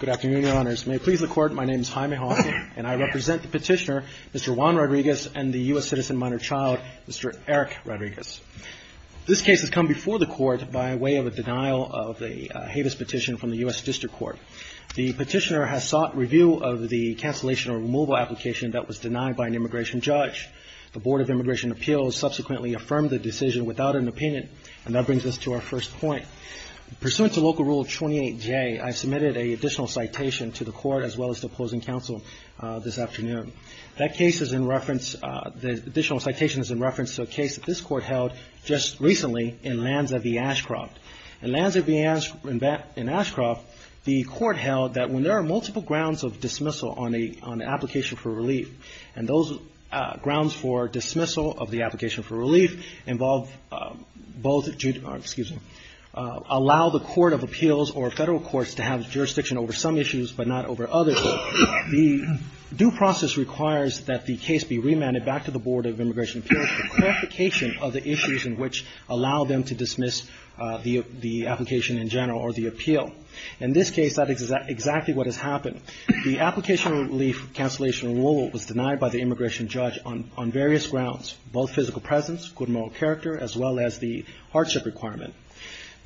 Good afternoon, Your Honors. May it please the Court, my name is Jaime Hawkins, and I represent the petitioner, Mr. Juan Rodriguez, and the U.S. citizen minor child, Mr. Eric Rodriguez. This case has come before the Court by way of a denial of a Havis petition from the U.S. District Court. The petitioner has sought review of the cancellation or removal application that was denied by an immigration judge. The Board of Immigration Appeals subsequently affirmed the decision without an opinion, and that brings us to our first point. Pursuant to Local Rule 28J, I submitted an additional citation to the Court as well as the opposing counsel this afternoon. That case is in reference, the additional citation is in reference to a case that this Court held just recently in Lanza v. Ashcroft. In Lanza v. Ashcroft, the Court held that when there are multiple grounds of dismissal on an application for relief, and those grounds for dismissal of the application for relief involve both, excuse me, allow the court of appeals or federal courts to have jurisdiction over some issues but not over others. The due process requires that the case be remanded back to the Board of Immigration Appeals for clarification of the issues in which allow them to dismiss the application in general or the appeal. In this case, that is exactly what has happened. The application relief cancellation rule was denied by the immigration judge on various grounds, both physical presence, good moral character, as well as the hardship requirement.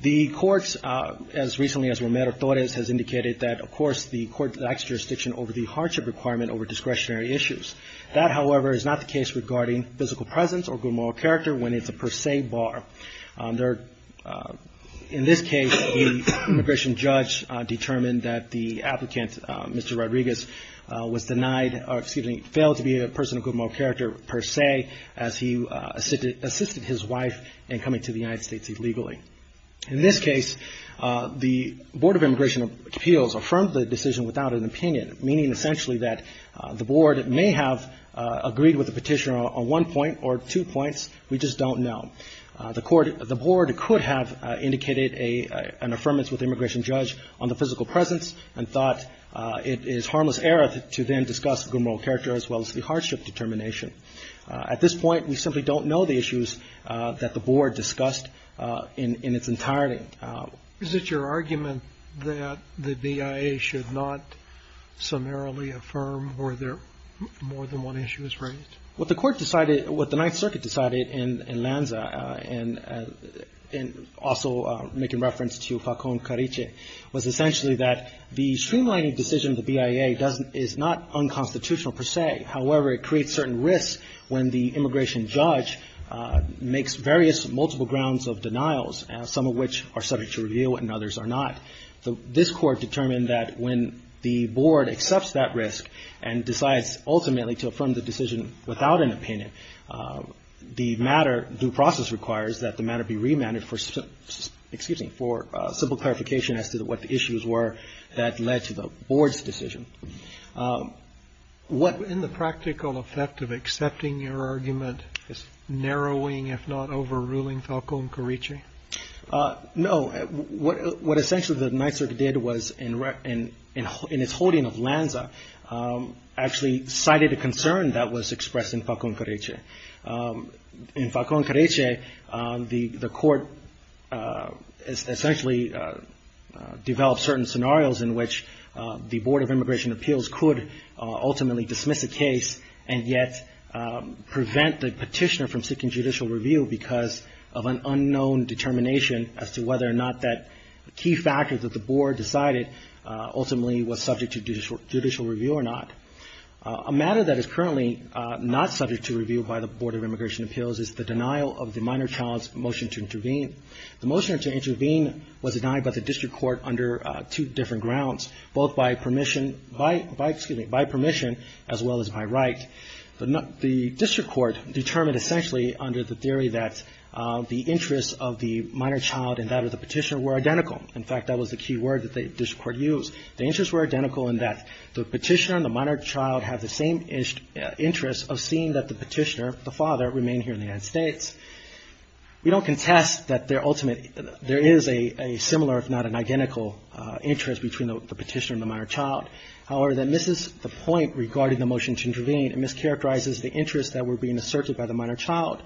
The courts, as recently as Romero-Torres, has indicated that, of course, the court lacks jurisdiction over the hardship requirement over discretionary issues. That, however, is not the case regarding physical presence or good moral character when it's a per se bar. In this case, the immigration judge determined that the applicant, Mr. Rodriguez, was denied or, excuse me, failed to be a person of good moral character per se as he assisted his wife in coming to the United States illegally. In this case, the Board of Immigration Appeals affirmed the decision without an opinion, meaning essentially that the board may have agreed with the petitioner on one point or two points. We just don't know. The board could have indicated an affirmance with the immigration judge on the physical presence and thought it is harmless error to then discuss good moral character as well as the hardship determination. At this point, we simply don't know the issues that the board discussed in its entirety. Is it your argument that the BIA should not summarily affirm where more than one issue is raised? What the court decided, what the Ninth Circuit decided in Lanza and also making reference to Facon Cariche was essentially that the streamlining decision of the BIA is not unconstitutional per se. However, it creates certain risks when the immigration judge makes various multiple grounds of denials, some of which are subject to review and others are not. This court determined that when the board accepts that risk and decides ultimately to affirm the decision without an opinion, the matter, due process requires that the matter be remanded for simple clarification as to what the issues were that led to the board's decision. In the practical effect of accepting your argument, is narrowing, if not overruling, Facon Cariche? No. What essentially the Ninth Circuit did was, in its holding of Lanza, actually cited a concern that was expressed in Facon Cariche. In Facon Cariche, the court essentially developed certain scenarios in which the Board of Immigration Appeals could ultimately dismiss a case and yet prevent the petitioner from seeking judicial review because of an unknown determination as to whether or not that key factor that the board decided ultimately was subject to judicial review or not. A matter that is currently not subject to review by the Board of Immigration Appeals is the denial of the minor child's motion to intervene. The motion to intervene was denied by the district court under two different grounds, both by permission as well as by right. The district court determined essentially under the theory that the interests of the minor child and that of the petitioner were identical. In fact, that was the key word that the district court used. The interests were identical in that the petitioner and the minor child have the same interests of seeing that the petitioner, the father, remain here in the United States. We don't contest that there is a similar, if not an identical, interest between the petitioner and the minor child. However, that misses the point regarding the motion to intervene and mischaracterizes the interests that were being asserted by the minor child.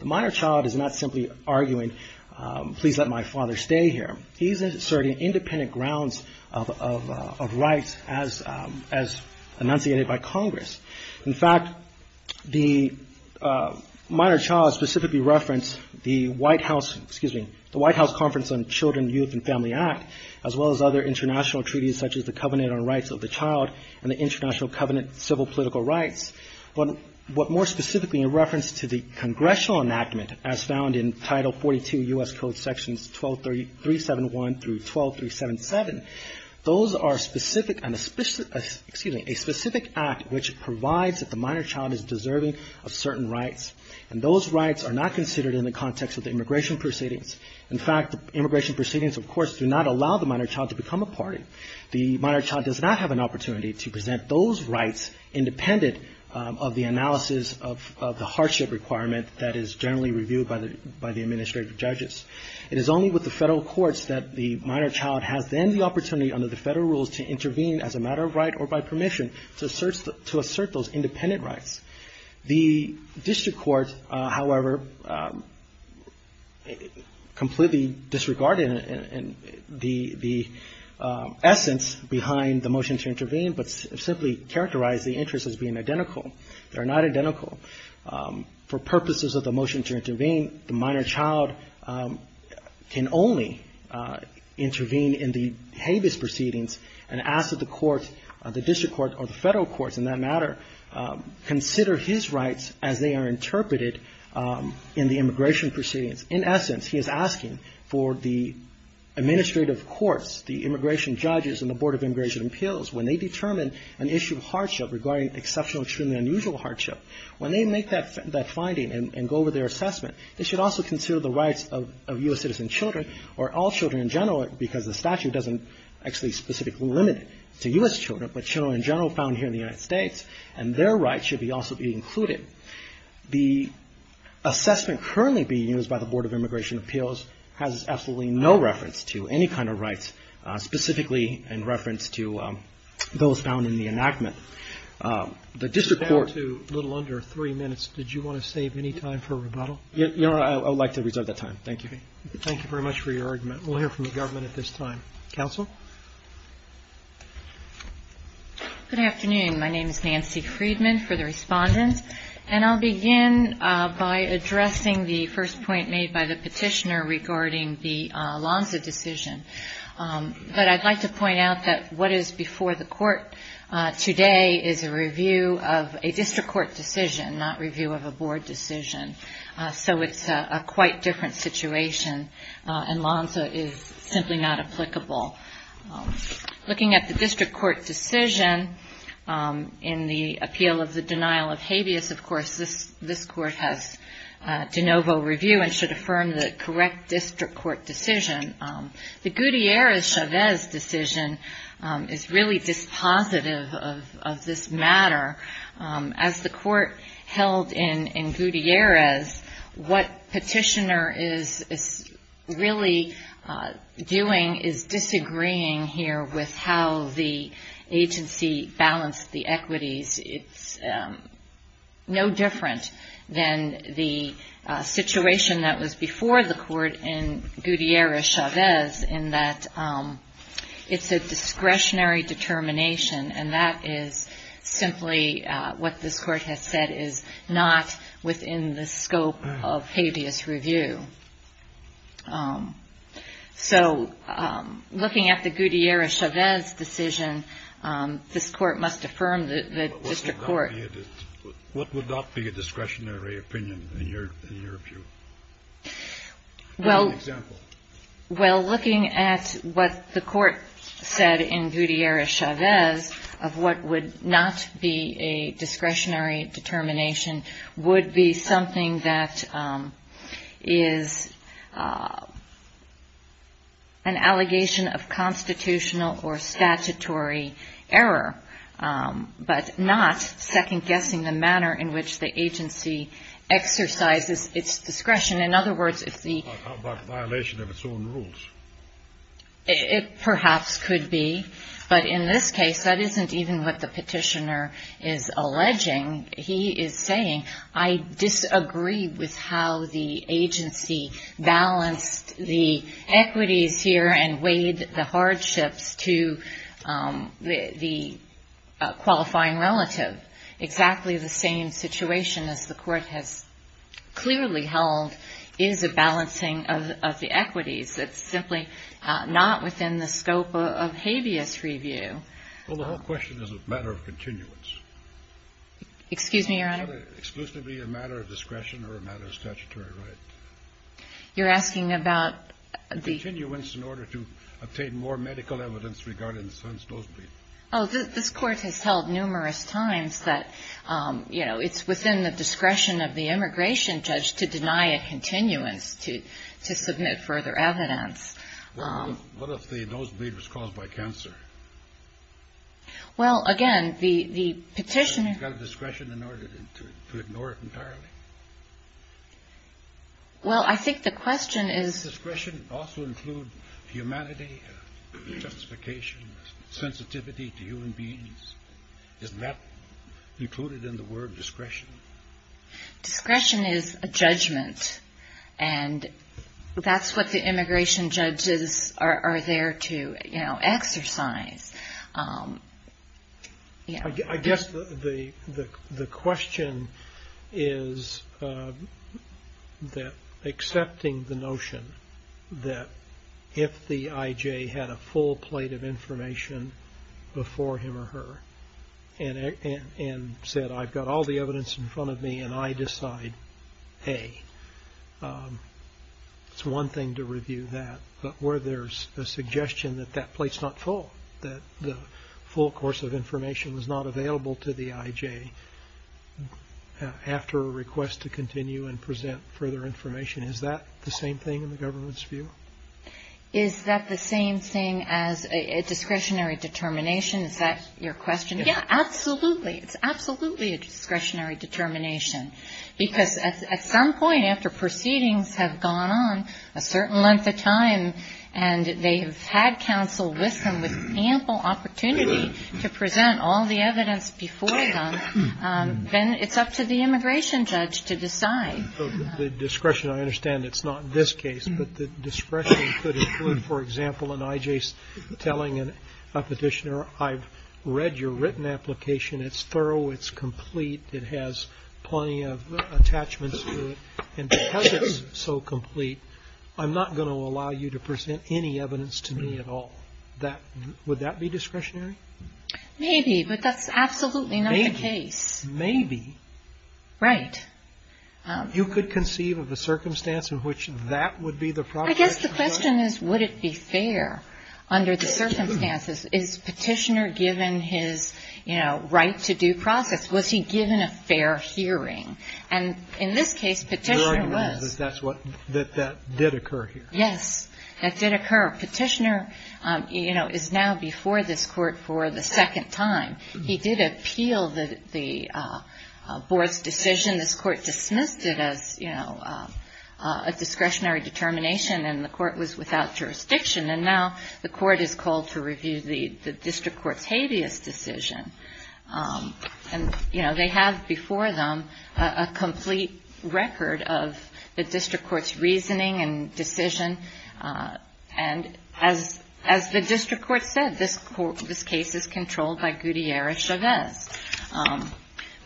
The minor child is not simply arguing, please let my father stay here. He is asserting independent grounds of rights as enunciated by Congress. In fact, the minor child specifically referenced the White House, excuse me, the White House Conference on Children, Youth, and Family Act, as well as other international treaties such as the Covenant on Rights of the Child and the International Covenant on Civil Political Rights. But more specifically in reference to the congressional enactment as found in Title 42 U.S. Code Sections 12371 through 12377, those are specific and a specific, excuse me, a specific act which provides that the minor child is deserving of certain rights. And those rights are not considered in the context of the immigration proceedings. In fact, the immigration proceedings, of course, do not allow the minor child to become a party. The minor child does not have an opportunity to present those rights independent of the analysis of the hardship requirement that is generally reviewed by the administrative judges. It is only with the federal courts that the minor child has then the opportunity under the federal rules to intervene as a matter of right or by permission to assert those independent rights. The district court, however, completely disregarded the essence behind the motion to intervene, but simply characterized the interest as being identical. They're not identical. For purposes of the motion to intervene, the minor child can only intervene in the habeas proceedings and ask that the courts consider his rights as they are interpreted in the immigration proceedings. In essence, he is asking for the administrative courts, the immigration judges and the Board of Immigration Appeals, when they determine an issue of hardship regarding exceptional, extremely unusual hardship, when they make that finding and go over their assessment, they should also consider the rights of U.S. citizen children or all children in general, because the statute doesn't actually specifically limit it to U.S. children, but children in general found here in the United States. And their rights should also be included. The assessment currently being used by the Board of Immigration Appeals has absolutely no reference to any kind of rights, specifically in reference to those found in the enactment. The district court… I would like to reserve that time. Thank you. Thank you very much for your argument. We'll hear from the government at this time. Counsel? Good afternoon. My name is Nancy Friedman for the respondents. And I'll begin by addressing the first point made by the petitioner regarding the LONZA decision. But I'd like to point out that what is before the court today is a review of a district court decision, not review of a board decision. So it's a quite different situation. And LONZA is simply not applicable. Looking at the district court decision, in the appeal of the denial of habeas, of course, this court has de novo review and should affirm the correct district court decision. The Gutierrez-Chavez decision is really dispositive of this matter. As the court held in Gutierrez, what petitioner was really doing is disagreeing here with how the agency balanced the equities. It's no different than the situation that was before the court in Gutierrez-Chavez, in that it's a discretionary determination. And that is simply what this court has said is not within the scope of habeas review. And I think that's the reason why it's not within the scope of habeas review. So looking at the Gutierrez-Chavez decision, this court must affirm the district court. What would not be a discretionary opinion in your view? Give an example. Well, looking at what the court said in Gutierrez-Chavez of what would not be a discretionary determination would be something that is not within the scope of habeas review. And that is an allegation of constitutional or statutory error, but not second-guessing the manner in which the agency exercises its discretion. In other words, it's the violation of its own rules. It perhaps could be. But in this case, that isn't even what the petitioner is saying. The petitioner is saying that the agency balanced the equities here and weighed the hardships to the qualifying relative. Exactly the same situation as the court has clearly held is a balancing of the equities. It's simply not within the scope of habeas review. Well, the whole question is a matter of continuance. Excuse me, Your Honor. Is that exclusively a matter of discretion or a matter of statutory right? You're asking about the... Continuance in order to obtain more medical evidence regarding the son's nosebleed. Oh, this court has held numerous times that, you know, it's within the discretion of the immigration judge to deny a continuance to submit further evidence. Well, I think the question is... Does discretion also include humanity, justification, sensitivity to human beings? Isn't that included in the word discretion? Discretion is a judgment. And that's what the immigration judges are there to, you know, exercise. I guess the question is that accepting the notion that if the I.J. had a full plate of information before him or her and said, I've got all the evidence in front of me and I decide, hey, it's one thing to review that. But where there's a suggestion that that plate's not full, that the full course of information is not available to the I.J. after a request to continue and present further information, is that the same thing in the government's view? Is that the same thing as a discretionary determination? Is that your question? Yeah, absolutely. It's absolutely a discretionary determination. Because at some point after proceedings have gone on a certain length of time and they have had counsel with them with ample opportunity to present all the evidence before them, then it's up to the immigration judge to decide. The discretion, I understand it's not in this case, but the discretion could include, for example, an I.J. telling a petitioner, I've read your written application, it's thorough, it's complete, it has plenty of evidence. It has plenty of attachments to it. And because it's so complete, I'm not going to allow you to present any evidence to me at all. Would that be discretionary? Maybe, but that's absolutely not the case. Maybe. Right. You could conceive of a circumstance in which that would be the proposition? Well, I guess the question is, would it be fair under the circumstances? Is Petitioner given his right to due process? Was he given a fair hearing? And in this case Petitioner was. You're arguing that that did occur here? Yes, that did occur. Petitioner is now before this Court for the second time. He did appeal the Board's decision. This Court dismissed it as a discretionary determination. The Court was without jurisdiction. And now the Court is called to review the District Court's habeas decision. And, you know, they have before them a complete record of the District Court's reasoning and decision. And as the District Court said, this case is controlled by Gutierrez-Chavez.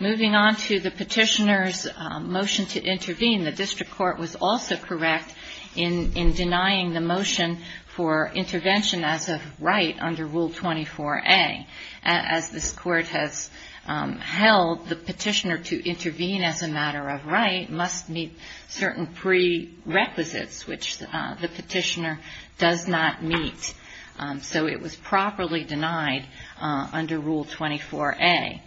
Moving on to the Petitioner's motion to intervene, the District Court was also correct in denouncing this case. It was denying the motion for intervention as of right under Rule 24A. As this Court has held, the Petitioner to intervene as a matter of right must meet certain prerequisites, which the Petitioner does not meet. So it was properly denied under Rule 24A.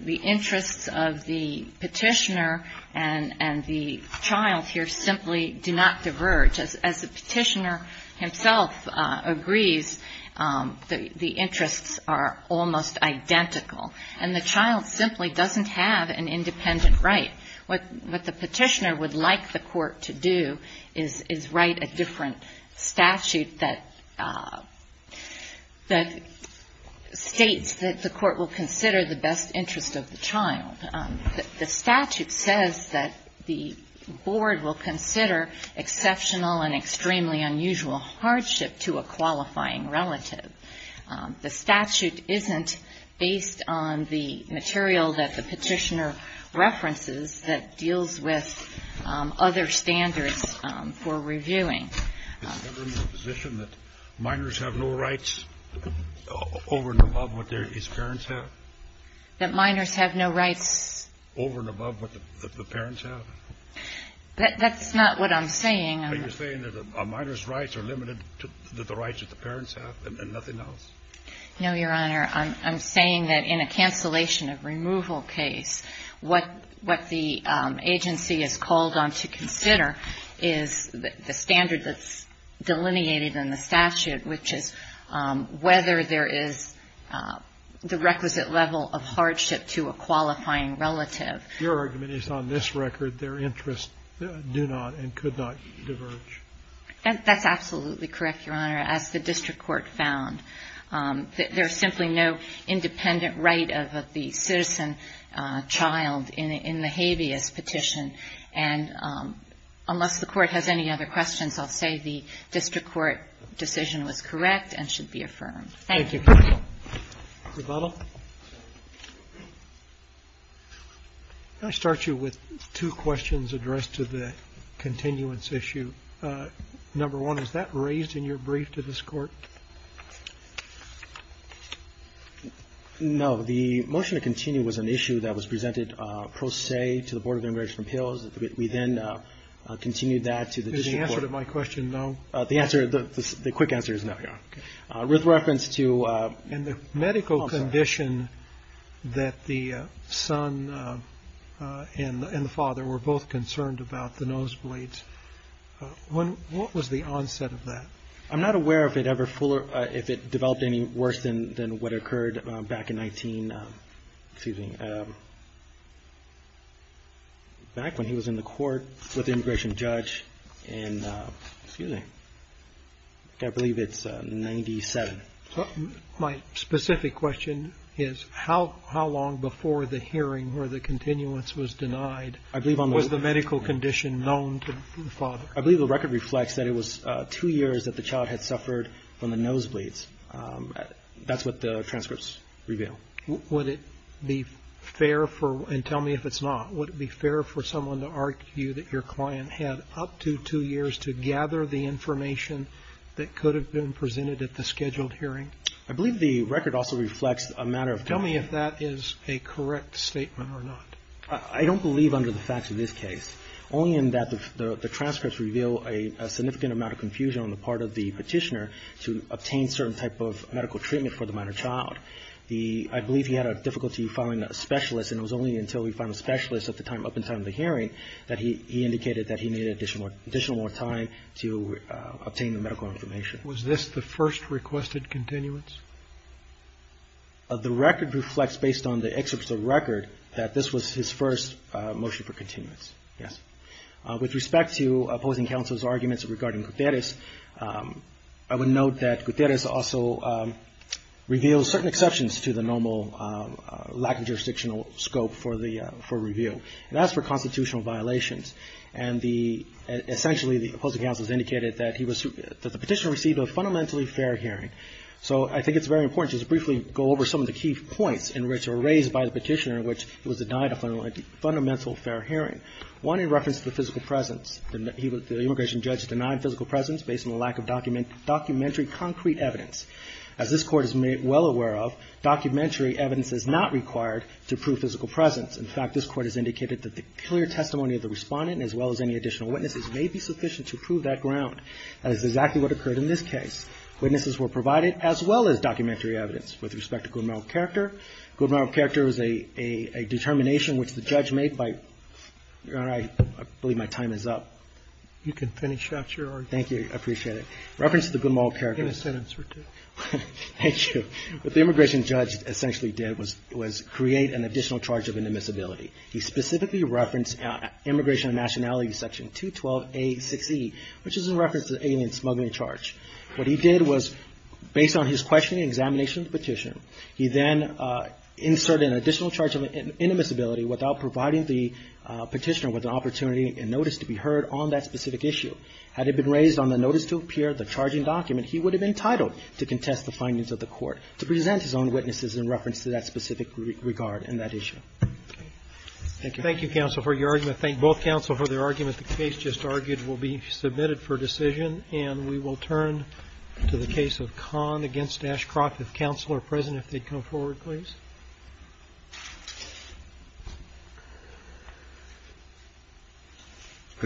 The interests of the Petitioner and the child here simply do not diverge. As I said, the Petitioner's motion was denied. As the Petitioner himself agrees, the interests are almost identical. And the child simply doesn't have an independent right. What the Petitioner would like the Court to do is write a different statute that states that the Court will consider the best interest of the child. The statute says that the Board will consider exceptional and extremely unusual hardship to a qualifying relative. The statute isn't based on the material that the Petitioner references that deals with other standards for reviewing. It's never in the position that minors have no rights over and above what their parents have? That minors have no rights over and above what the parents have? That's not what I'm saying. Are you saying that a minor's rights are limited to the rights that the parents have and nothing else? No, Your Honor. I'm saying that in a cancellation of removal case, what the agency is called on to consider is the standard that's delineated in the statute, which is whether there is the requisite level of hardship to a qualifying relative. Your argument is on this record their interests do not and could not diverge. That's absolutely correct, Your Honor, as the district court found. There's simply no independent right of the citizen child in the habeas petition. And unless the Court has any other questions, I'll say the district court decision was correct and should be affirmed. Thank you. Mr. Butler? Can I start you with two questions addressed to the continuance issue? Number one, is that raised in your brief to this Court? No. The motion to continue was an issue that was presented pro se to the Board of Immigration Appeals. We then continued that to the district court. Is the answer to my question no? The answer, the quick answer is no, Your Honor. Okay. Just as a quick reference to And the medical condition that the son and the father were both concerned about, the nosebleeds, what was the onset of that? I'm not aware if it developed any worse than what occurred back in 19, excuse me, back when he was in the court with the immigration judge in, excuse me, I believe it's 97. My specific question is how long before the hearing where the continuance was denied was the medical condition known to the father? I believe the record reflects that it was two years that the child had suffered from the nosebleeds. That's what the transcripts reveal. Would it be fair for, and tell me if it's not, would it be fair for someone to argue that your client had up to two years to gather the information that could have been presented at the scheduled hearing? I believe the record also reflects a matter of time. Tell me if that is a correct statement or not. I don't believe under the facts of this case. Only in that the transcripts reveal a significant amount of confusion on the part of the Petitioner to obtain certain type of medical treatment for the minor child. I believe he had a difficulty finding a specialist, and it was only until he found a specialist at the time, up in time of the hearing, that he indicated that he needed additional time to obtain the medical information. Was this the first requested continuance? The record reflects, based on the excerpts of the record, that this was his first motion for continuance, yes. With respect to opposing counsel's arguments regarding Gutierrez, I would note that Gutierrez also reveals certain exceptions to the normal lack of jurisdictional scope for review. That's for constitutional violations. Essentially, the opposing counsel has indicated that the Petitioner received a fundamentally fair hearing. So I think it's very important to just briefly go over some of the key points in which were raised by the Petitioner in which he was denied a fundamental fair hearing. One in reference to the physical presence. The immigration judge denied physical presence based on the lack of documentary concrete evidence. As this Court is well aware of, documentary evidence is not required to prove physical presence. In fact, this Court has indicated that the clear testimony of the respondent, as well as any additional witnesses, may be sufficient to prove that ground. That is exactly what occurred in this case. Witnesses were provided as well as documentary evidence. With respect to good moral character, good moral character is a determination which the judge made by, I believe my time is up. You can finish that, Your Honor. Thank you. I appreciate it. In reference to the good moral character. In a sentence or two. Thank you. What the immigration judge essentially did was create an additional charge of indemnizability. He specifically referenced Immigration and Nationality Section 212A6E, which is in reference to the alien smuggling charge. What he did was, based on his questioning and examination of the Petitioner, he then inserted an additional charge of indemnizability without providing the Petitioner with an opportunity and notice to be heard on that specific issue. Had it been raised on the notice to appear, the charging document, he would have been entitled to contest the findings of the Court, to present his own witnesses in reference to that specific regard in that issue. Thank you. Thank you, counsel, for your argument. Thank both counsel for their argument. The case just argued will be submitted for decision, and we will turn to the case of Kahn against Ashcroft. If counsel are present, if they'd come forward, please.